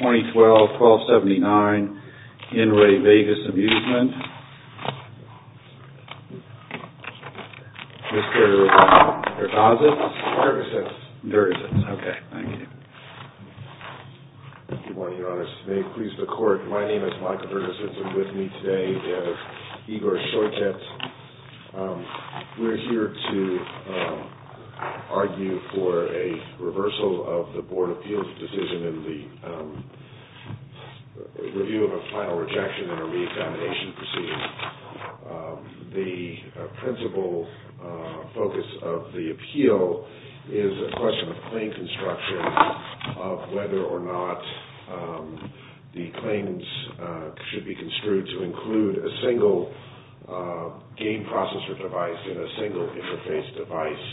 2012-1279, Henry Vegas Amusement. Mr. Vergasas? Vergasas. Vergasas, okay, thank you. Good morning, Your Honor. May it please the Court, my name is Michael Vergasas. I'm with me today is Igor Shortet. We're here to argue for a reversal of the Board of Appeals decision in the review of a final rejection and a re-examination proceeding. The principal focus of the appeal is a question of claim construction of whether or not the claims should be construed to include a single game processor device in a single interface device.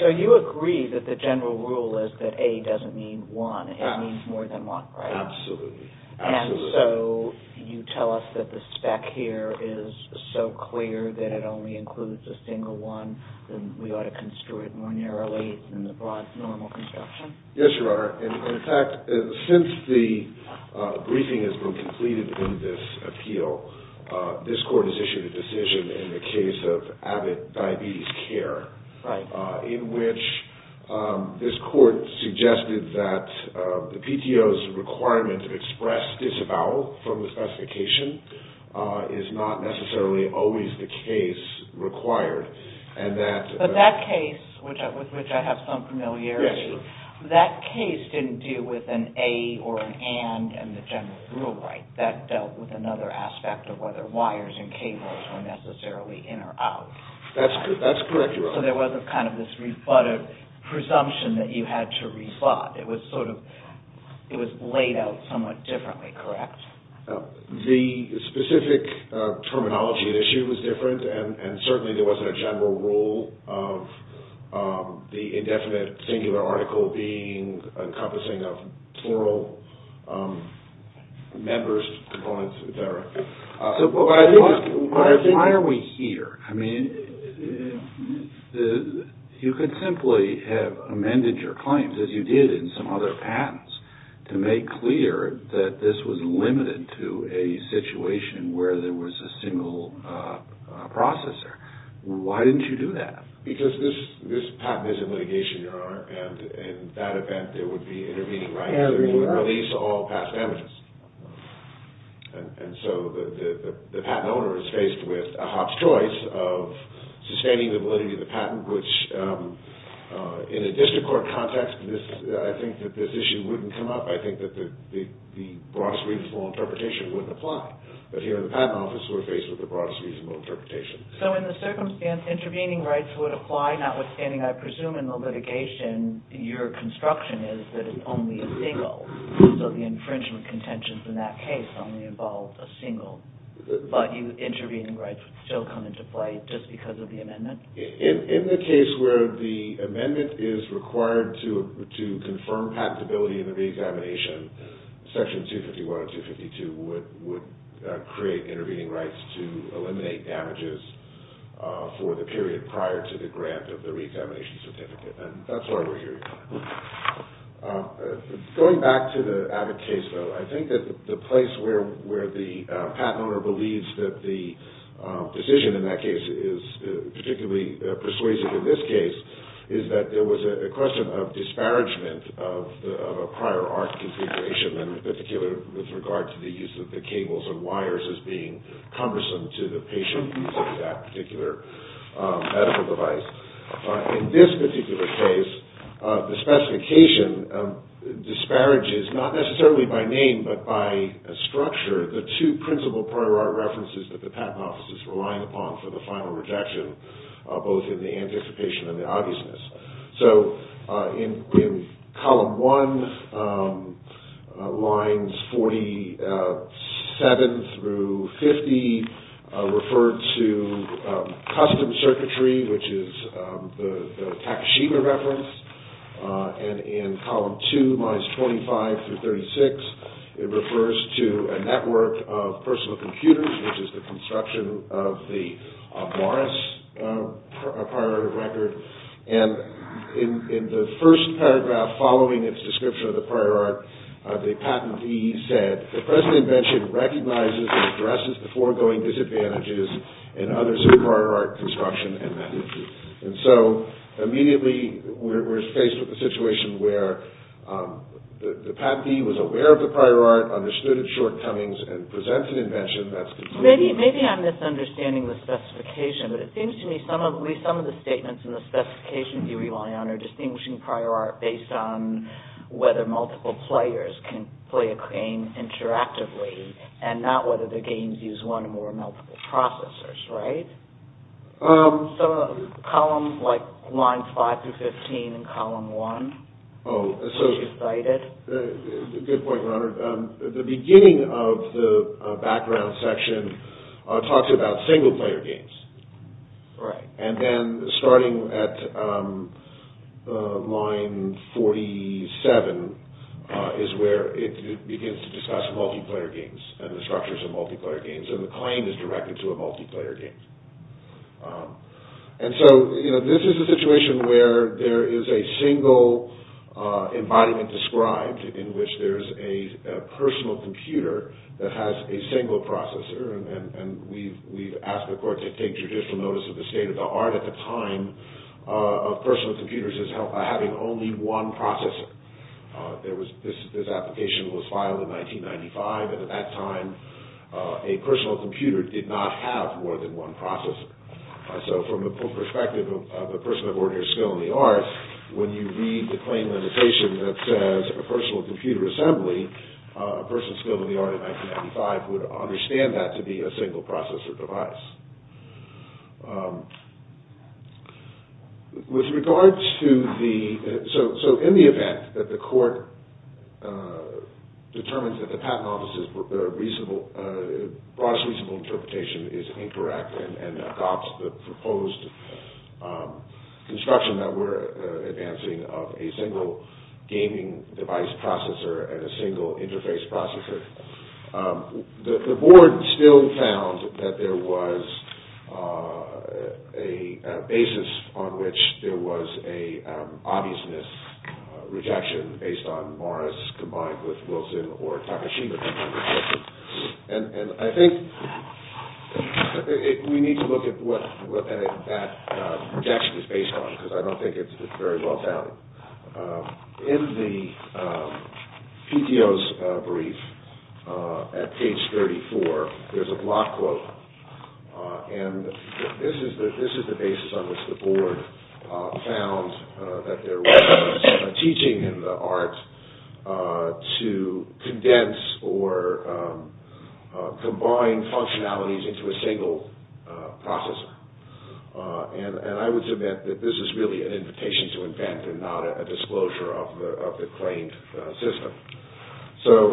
So you agree that the general rule is that A doesn't mean one, it means more than one. Absolutely. And so you tell us that the spec here is so clear that it only includes a single one, that we ought to construe it more narrowly than the broad normal construction? Yes, Your Honor. In fact, since the briefing has been completed in this appeal, this Court has issued a decision in the case of Abbott Diabetes Care, in which this Court suggested that the PTO's requirement to express disavowal from the specification is not necessarily always the case required. But that case, with which I have some familiarity, that case didn't deal with an A or an and in the general rule, right? That dealt with another aspect of whether wires and cables were necessarily in or out. That's correct, Your Honor. So there wasn't kind of this rebutted presumption that you had to rebut. It was laid out somewhat differently, correct? The specific terminology at issue was different, and certainly there wasn't a general rule of the indefinite singular article being encompassing of plural members, components, et cetera. So why are we here? I mean, you could simply have amended your claims, as you did in some other patents, to make clear that this was limited to a situation where there was a single processor. Why didn't you do that? Because this patent is in litigation, Your Honor, and in that event, there would be intervening rights that would release all past evidence. And so the patent owner is faced with a hot choice of sustaining the validity of the patent, which in a district court context, I think that this issue wouldn't come up. I think that the broadest reasonable interpretation wouldn't apply. But here in the patent office, we're faced with the broadest reasonable interpretation. So in the circumstance intervening rights would apply, notwithstanding, I presume, in the litigation, your construction is that it's only a single. So the infringement contentions in that case only involved a single. But intervening rights would still come into play just because of the amendment? In the case where the amendment is required to confirm patentability in the reexamination, Section 251 and 252 would create intervening rights to eliminate damages for the period prior to the grant of the reexamination certificate. And that's why we're here, Your Honor. Going back to the Abbott case, though, I think that the place where the patent owner believes that the decision in that case is particularly persuasive in this case is that there was a question of disparagement of a prior art configuration, and in particular with regard to the use of the cables and wires as being cumbersome to the patient using that particular medical device. In this particular case, the specification disparages, not necessarily by name, but by structure, the two principal prior art references that the patent office is relying upon for the final rejection, both in the anticipation and the obviousness. So in Column 1, lines 47 through 50 refer to custom circuitry, which is the Takashima reference, and in Column 2, lines 25 through 36, it refers to a network of personal computers, which is the construction of Morris prior art record. And in the first paragraph following its description of the prior art, the patentee said, the present invention recognizes and addresses the foregoing disadvantages and others in prior art construction and management. And so, immediately, we're faced with a situation where the patentee was aware of the prior art, understood its shortcomings, and presents an invention that's considered… Maybe I'm misunderstanding the specification, but it seems to me some of the statements in the specifications you rely on are distinguishing prior art based on whether multiple players can play a game interactively, and not whether the games use one or more multiple processors, right? Columns like lines 5 through 15 in Column 1, as you cited. And so, this is a situation where there is a single embodiment described in which there's a personal computer that has a single processor, and we've asked the court to take judicial notice of the state of the art at the time of personal computers as having only one processor. This application was filed in 1995, and at that time, a personal computer did not have more than one processor. So, from the perspective of a person of ordinary skill in the art, when you read the claim annotation that says a personal computer assembly, a person skilled in the art in 1995 would understand that to be a single processor device. So, in the event that the court determines that the patent office's broadest reasonable interpretation is incorrect, and adopts the proposed construction that we're advancing of a single gaming device processor and a single interface processor, the board still found that there was a basis on which there was an obviousness rejection based on Morris combined with Wilson or Takashima. And I think we need to look at what that rejection is based on, because I don't think it's very well-founded. In the PTO's brief at page 34, there's a block quote, and this is the basis on which the board found that there was a teaching in the art to condense or combine functionalities into a single processor. And I would submit that this is really an invitation to invent and not a disclosure of the claimed system. So,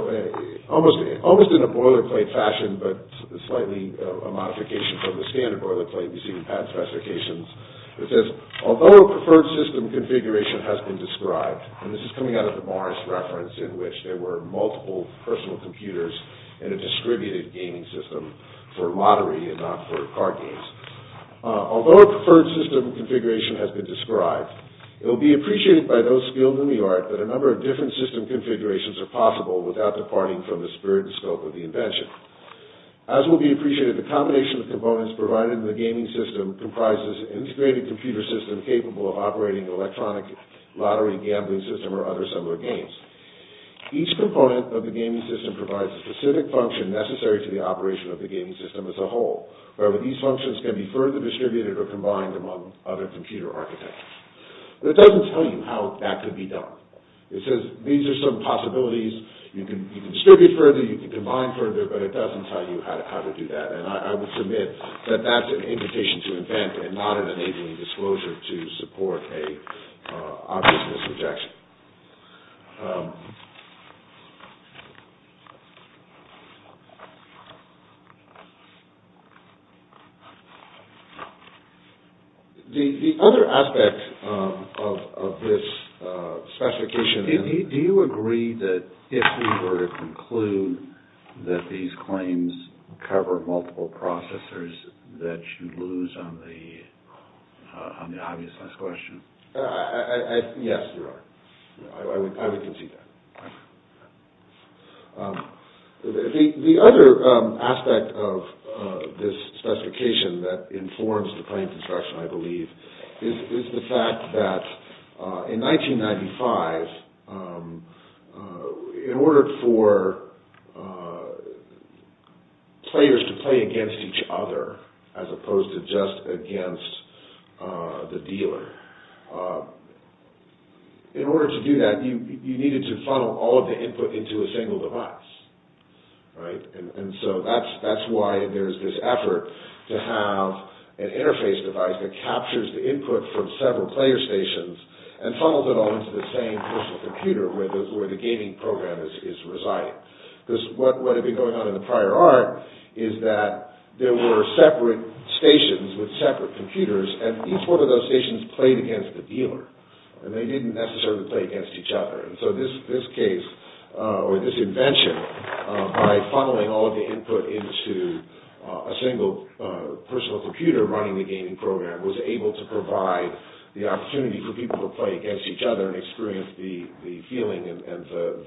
almost in a boilerplate fashion, but slightly a modification from the standard boilerplate, you see the patent specifications. It says, although a preferred system configuration has been described, and this is coming out of the Morris reference in which there were multiple personal computers in a distributed gaming system for lottery and not for card games. Although a preferred system configuration has been described, it will be appreciated by those skilled in the art that a number of different system configurations are possible without departing from the spirit and scope of the invention. As will be appreciated, the combination of components provided in the gaming system comprises an integrated computer system capable of operating an electronic lottery, gambling system, or other similar games. Each component of the gaming system provides a specific function necessary to the operation of the gaming system as a whole, where these functions can be further distributed or combined among other computer architectures. But it doesn't tell you how that could be done. It says, these are some possibilities, you can distribute further, you can combine further, but it doesn't tell you how to do that. And I would submit that that's an invitation to invent and not an enabling disclosure to support an obvious misrejection. The other aspect of this specification... Do you agree that if we were to conclude that these claims cover multiple processors that you'd lose on the obvious last question? Yes, there are. I would concede that. The other aspect of this specification that informs the claim construction, I believe, is the fact that in 1995, in order for players to play against each other as opposed to just against the dealer, in order to do that, you needed to funnel all of the input into a single device. And so that's why there's this effort to have an interface device that captures the input from several player stations and funnels it all into the same personal computer where the gaming program is residing. Because what had been going on in the prior art is that there were separate stations with separate computers, and each one of those stations played against the dealer. And they didn't necessarily play against each other. And so this case, or this invention, by funneling all of the input into a single personal computer running the gaming program, was able to provide the opportunity for people to play against each other and experience the feeling and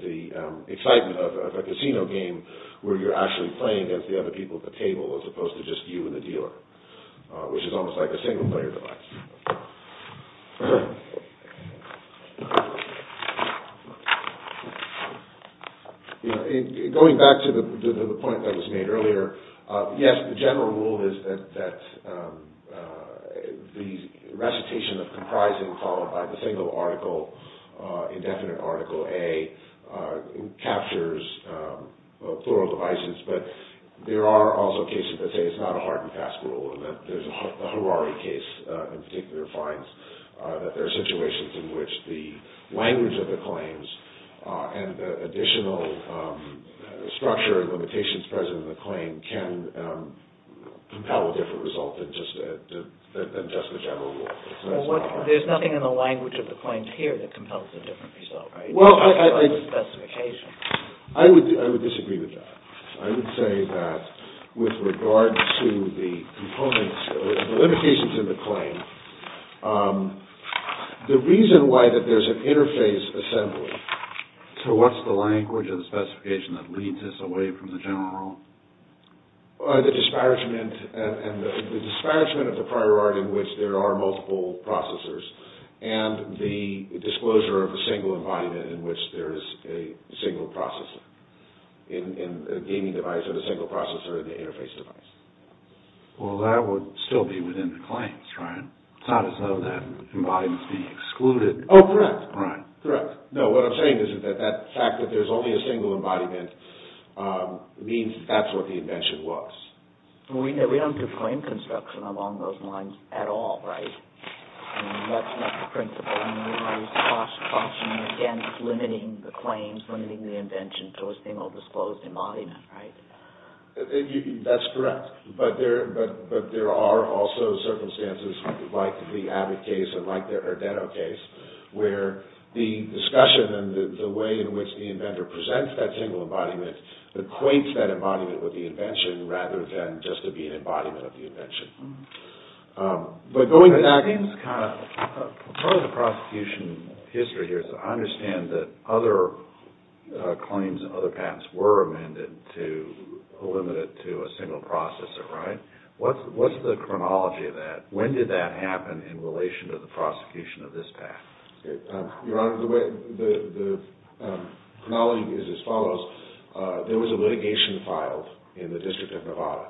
the excitement of a casino game where you're actually playing against the other people at the table as opposed to just you and the dealer, which is almost like a single player device. Going back to the point that was made earlier, yes, the general rule is that the recitation of comprising followed by the single article, indefinite article A, captures plural devices. But there are also cases that say it's not a hard and fast rule, and the Harari case in particular finds that there are situations in which the language of the claims and the additional structure and limitations present in the claim can compel a different result than just the general rule. There's nothing in the language of the claims here that compels a different result, right? I would disagree with that. I would say that with regard to the limitations in the claim, the reason why that there's an interface assembly to what's the language of the specification that leads us away from the general rule? The disparagement of the priority in which there are multiple processors and the disclosure of a single embodiment in which there is a single processor in a gaming device and a single processor in the interface device. Well, that would still be within the claims, right? It's not as though that embodiment is being excluded. Oh, correct. Correct. It means that that's what the invention was. We don't do claim construction along those lines at all, right? That's not the principle. We're always cautioning against limiting the claims, limiting the invention to a single disclosed embodiment, right? That's correct. But there are also circumstances like the Abbott case and like the Ardeno case where the discussion and the way in which the inventor presents that single embodiment equates that embodiment with the invention rather than just to be an embodiment of the invention. Part of the prosecution history here is that I understand that other claims and other patents were amended to limit it to a single processor, right? What's the chronology of that? When did that happen in relation to the prosecution of this patent? Your Honor, the chronology is as follows. There was a litigation filed in the District of Nevada,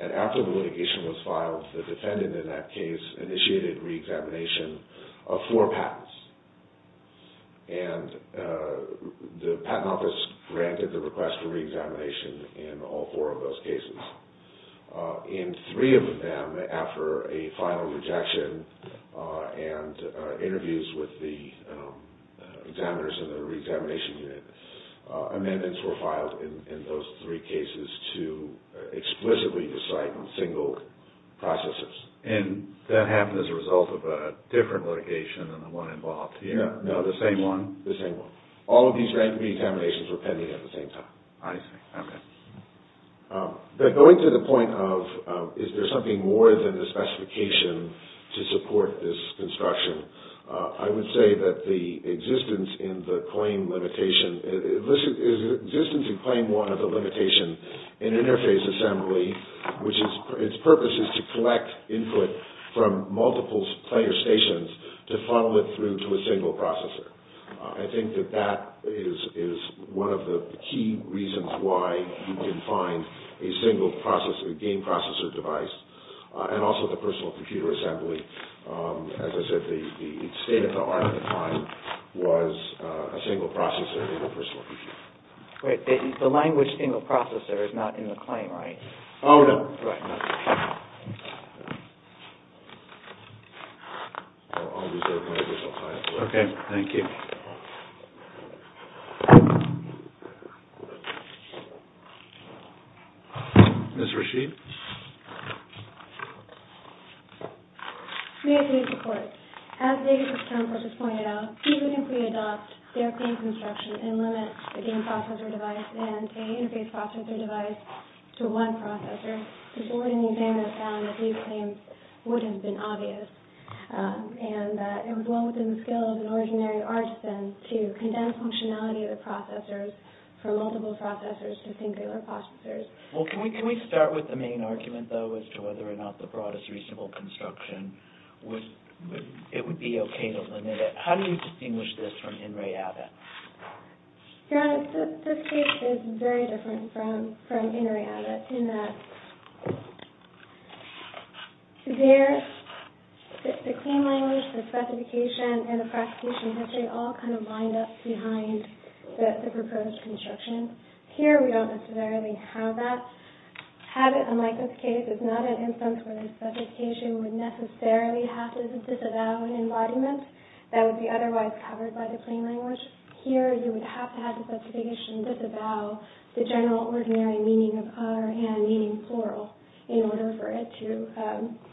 and after the litigation was filed, the defendant in that case initiated reexamination of four patents. And the Patent Office granted the request for reexamination in all four of those cases. In three of them, after a final rejection and interviews with the examiners in the reexamination unit, amendments were filed in those three cases to explicitly decide on single processors. And that happened as a result of a different litigation than the one involved here? Yeah. No, the same one? The same one. All of these random reexaminations were pending at the same time. I see. Okay. But going to the point of is there something more than the specification to support this construction, I would say that the existence in the claim limitation – the existence in Claim 1 of the limitation in interface assembly, which its purpose is to collect input from multiple player stations to funnel it through to a single processor. I think that that is one of the key reasons why you can find a single processor, a game processor device, and also the personal computer assembly. As I said, the state-of-the-art at the time was a single processor and a personal computer. The language single processor is not in the claim, right? Oh, no. Right. I'll reserve my additional time. Okay. Thank you. Ms. Rasheed? May I please report? As David's term purpose pointed out, even if we adopt their claims instruction and limit the game processor device and interface processor device to one processor, the board and the examiner found that these claims would have been obvious and that it was well within the skill of an ordinary artisan to condemn functionality of the processors from multiple processors to singular processors. Well, can we start with the main argument, though, as to whether or not the broadest reasonable construction would – it would be okay to limit it? How do you distinguish this from INRI Abbott? Your Honor, this case is very different from INRI Abbott in that there – the claim language, the specification, and the prosecution history all kind of wind up behind the proposed construction. Here, we don't necessarily have that. Abbott, unlike this case, is not an instance where the specification would necessarily have to disavow an embodiment that would be otherwise covered by the plain language. Here, you would have to have the specification disavow the general ordinary meaning of a or an, meaning plural, in order for it to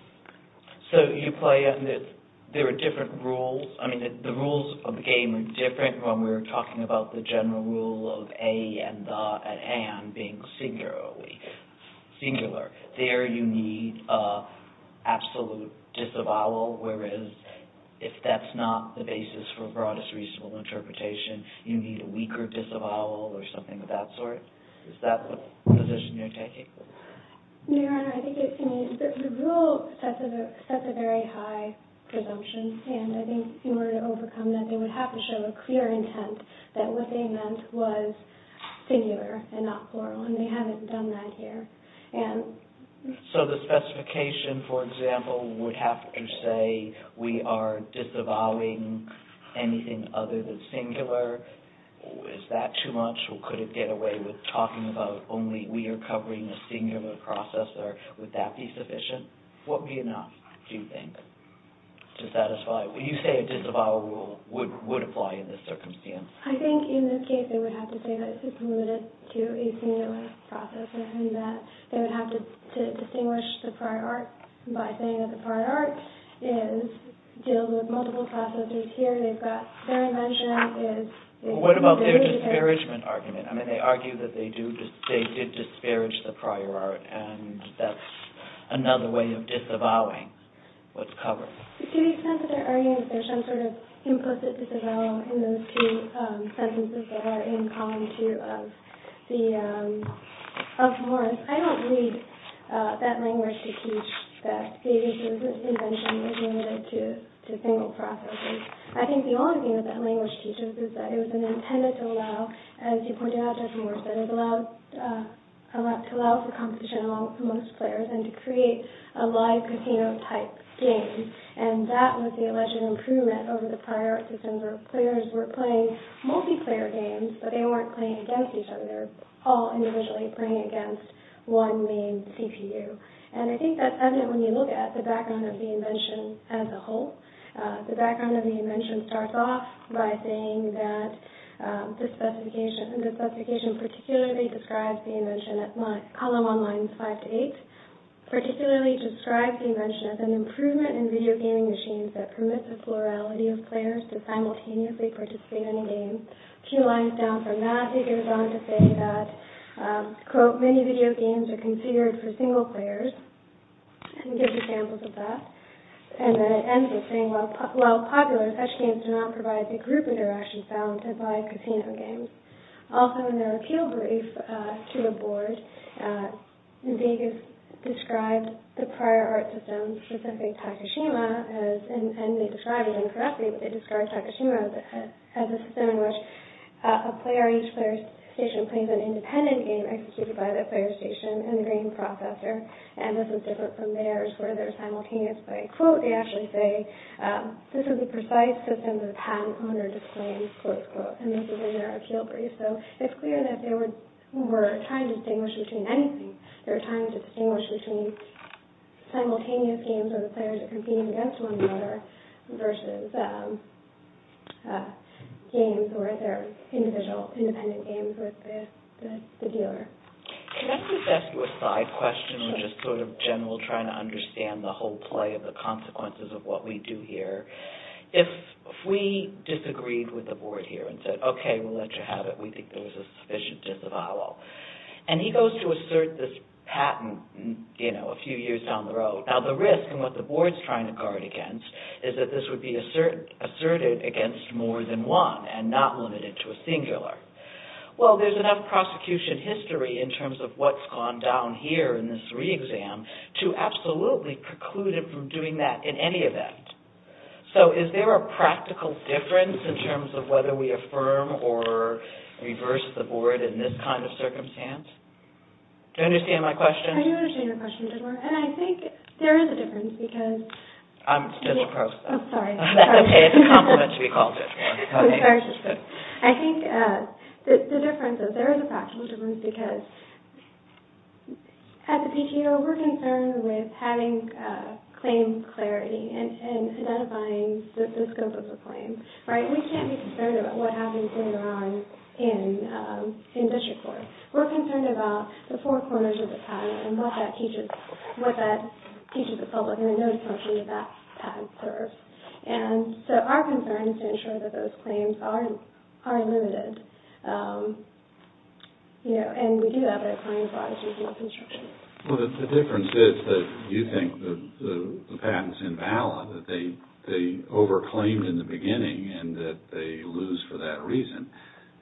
– So, you play on the – there are different rules – I mean, the rules of the game are different when we're talking about the general rule of a and an being singular. There, you need absolute disavowal, whereas if that's not the basis for broadest reasonable interpretation, you need a weaker disavowal or something of that sort. Is that the position you're taking? Your Honor, I think it's – I mean, the rule sets a very high presumption, and I think in order to overcome that, they would have to show a clear intent that what they meant was singular and not plural, and they haven't done that here. So, the specification, for example, would have to say, we are disavowing anything other than singular. Is that too much, or could it get away with talking about only we are covering a singular process, or would that be sufficient? What would be enough, do you think, to satisfy – would you say a disavowal would apply in this circumstance? I think in this case, they would have to say that it's superlative to a singular process, and that they would have to distinguish the prior art by saying that the prior art deals with multiple processes. Here, they've got their invention is – What about their disparagement argument? I mean, they argue that they do – they did disparage the prior art, and that's another way of disavowing what's covered. To the extent that they're arguing that there's some sort of implicit disavowal in those two sentences that are in column two of Morris, I don't believe that language they teach that Davis' invention was limited to single processes. I think the only thing that that language teaches is that it was intended to allow, as you pointed out, as Morris said, to allow for competition amongst players and to create a live casino-type game. And that was the alleged improvement over the prior art systems where players were playing multiplayer games, but they weren't playing against each other. They were all individually playing against one main CPU. And I think that's evident when you look at the background of the invention as a whole. The background of the invention starts off by saying that this specification particularly describes the invention – column one, lines five to eight – particularly describes the invention as an improvement in video gaming machines that permits the plurality of players to simultaneously participate in a game. A few lines down from that, he goes on to say that, quote, many video games are considered for single players, and he gives examples of that. And then it ends with saying, while popular, such games do not provide the group interactions found in live casino games. Also in their appeal brief to the board, Vegas described the prior art system, specifically Takashima, and they describe it incorrectly, but they describe Takashima as a system in which a player, each player's station, plays an independent game executed by the player's station and the game processor. And this is different from theirs, where they're simultaneously, quote, they actually say, this is a precise system that a patent owner disclaims, quote, unquote, and this is in their appeal brief. So it's clear that they were trying to distinguish between anything. They were trying to distinguish between simultaneous games where the players are competing against one another versus games where they're individual, independent games with the dealer. Can I just ask you a side question, which is sort of general, trying to understand the whole play of the consequences of what we do here? If we disagreed with the board here and said, okay, we'll let you have it. We think there was a sufficient disavowal. And he goes to assert this patent, you know, a few years down the road. Now, the risk and what the board's trying to guard against is that this would be asserted against more than one and not limited to a singular. Well, there's enough prosecution history in terms of what's gone down here in this re-exam to absolutely preclude it from doing that in any event. So is there a practical difference in terms of whether we affirm or reverse the board in this kind of circumstance? Do you understand my question? I do understand your question, Bidwar, and I think there is a difference because... I'm just a process. Oh, sorry. Okay, it's a compliment to be called, Bidwar. I think the difference is there is a practical difference because at the PTO, we're concerned with having claim clarity and identifying the scope of the claim, right? We can't be concerned about what happens later on in district court. We're concerned about the four corners of the patent and what that teaches the public and the notice function that that patent serves. And so our concern is to ensure that those claims are unlimited. And we do have that claim, but I was using that construction. Well, the difference is that you think the patent's invalid, that they over-claimed in the beginning and that they lose for that reason.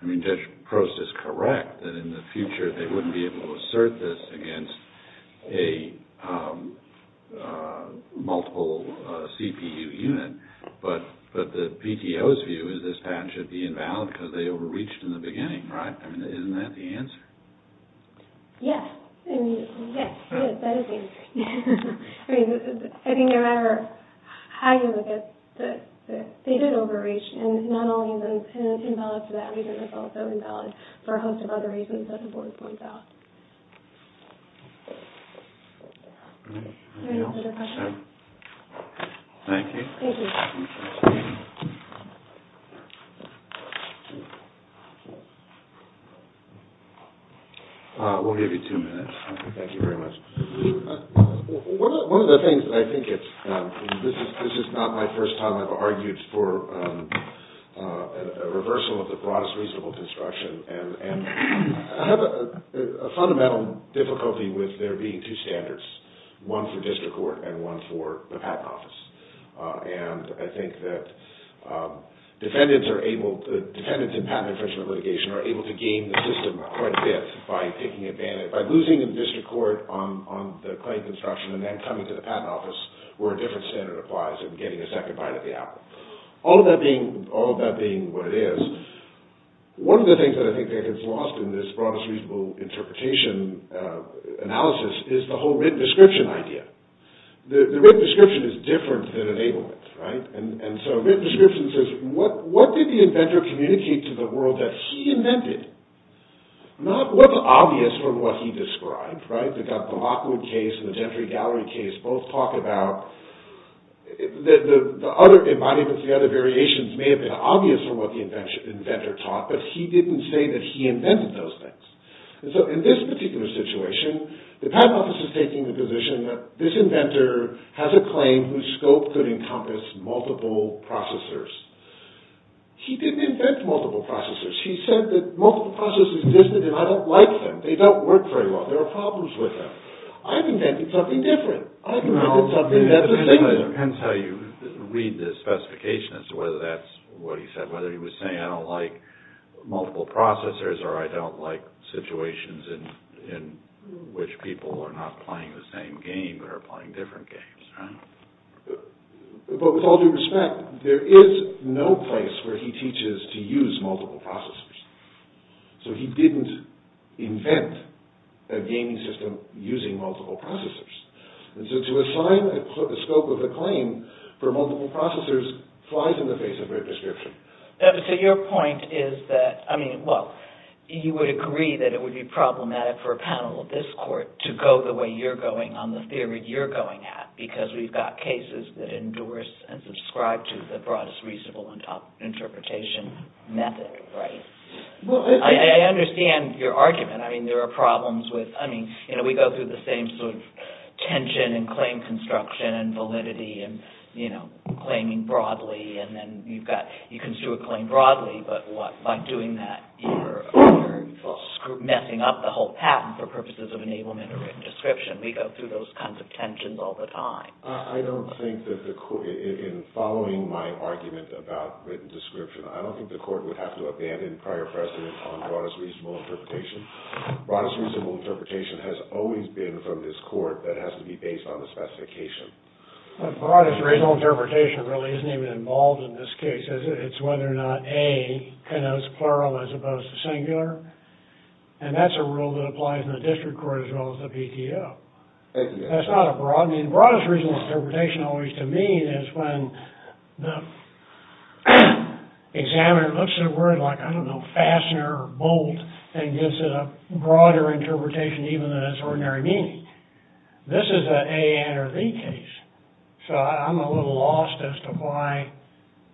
I mean, Judge Prost is correct that in the future, they wouldn't be able to assert this against a multiple CPU unit. But the PTO's view is this patent should be invalid because they over-reached in the beginning, right? I mean, isn't that the answer? Yes. That is the answer. I mean, I think no matter how you look at it, they did overreach. And not only is it invalid for that reason, it's also invalid for a host of other reasons that the board points out. Thank you. Thank you. We'll give you two minutes. Thank you very much. One of the things that I think it's—this is not my first time I've argued for a reversal of the broadest reasonable construction. And I have a fundamental difficulty with there being two standards, one for district court and one for the patent office. And I think that defendants in patent infringement litigation are able to game the system quite a bit by taking advantage— and then coming to the patent office where a different standard applies and getting a second bite at the apple. All of that being what it is, one of the things that I think that gets lost in this broadest reasonable interpretation analysis is the whole written description idea. The written description is different than enablement, right? And so written description says what did the inventor communicate to the world that he invented? Not what's obvious from what he described, right? I think that the Lockwood case and the Gentry Gallery case both talk about—in my view, the other variations may have been obvious from what the inventor taught, but he didn't say that he invented those things. And so in this particular situation, the patent office is taking the position that this inventor has a claim whose scope could encompass multiple processors. He didn't invent multiple processors. He said that multiple processors existed and I don't like them. They don't work very well. There are problems with them. I've invented something different. I've invented something that's— It depends how you read the specification as to whether that's what he said, whether he was saying I don't like multiple processors or I don't like situations in which people are not playing the same game but are playing different games, right? But with all due respect, there is no place where he teaches to use multiple processors. So he didn't invent a gaming system using multiple processors. And so to assign a scope of a claim for multiple processors flies in the face of Red Prescription. So your point is that—I mean, well, you would agree that it would be problematic for a panel of this court to go the way you're going on the theory you're going at because we've got cases that endorse and subscribe to the broadest reasonable interpretation method, right? I understand your argument. I mean, there are problems with—I mean, you know, we go through the same sort of tension in claim construction and validity and, you know, claiming broadly. And then you've got—you can do a claim broadly, but what? By doing that, you're messing up the whole patent for purposes of enablement or Red Description. We go through those kinds of tensions all the time. I don't think that the court—in following my argument about Red Description, I don't think the court would have to abandon prior precedent on broadest reasonable interpretation. Broadest reasonable interpretation has always been from this court that it has to be based on the specification. Broadest reasonable interpretation really isn't even involved in this case. It's whether or not A connotes plural as opposed to singular. And that's a rule that applies in the district court as well as the PTO. That's not a broad—I mean, broadest reasonable interpretation always, to me, is when the examiner looks at a word like, I don't know, fastener or bolt, and gives it a broader interpretation even than its ordinary meaning. This is an A, and, or, the case. So I'm a little lost as to why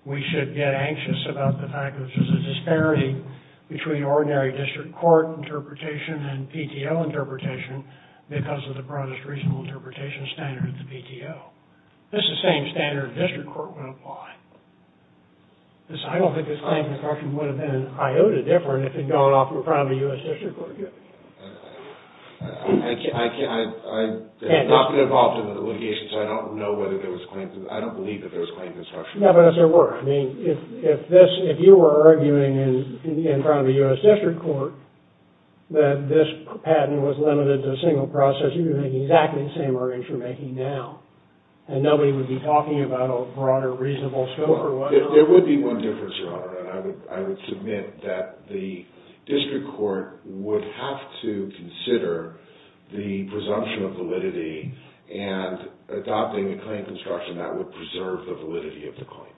we should get anxious about the fact that there's a disparity between ordinary district court interpretation and PTO interpretation because of the broadest reasonable interpretation standard of the PTO. It's the same standard the district court would apply. I don't think this claim would have been an iota different if it had gone off in front of a U.S. district court. I've not been involved in the litigation, so I don't know whether there was claims—I don't believe that there was claims of obstruction. Yeah, but as there were. I mean, if this—if you were arguing in front of a U.S. district court that this patent was limited to a single process, you'd be making exactly the same arrangement you're making now. And nobody would be talking about a broader reasonable scope or whatever. There would be one difference, Your Honor. And I would submit that the district court would have to consider the presumption of validity and adopting a claim construction that would preserve the validity of the claim.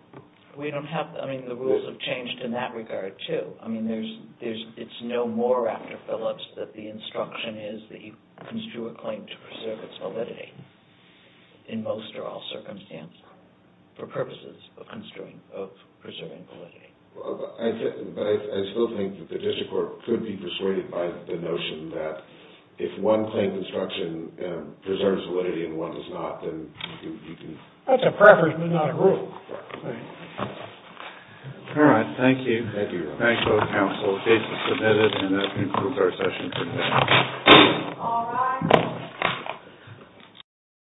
We don't have—I mean, the rules have changed in that regard, too. I mean, there's—it's no more after Phillips that the instruction is that you construe a claim to preserve its validity, in most or all circumstances, for purposes of construing—of preserving validity. But I still think that the district court could be persuaded by the notion that if one claim construction preserves validity and one does not, then you can— That's a preference, but not a rule. All right. Thank you. Thank you, Your Honor. Thanks, both counsel. The case is submitted, and that concludes our session today. All rise. The case is submitted.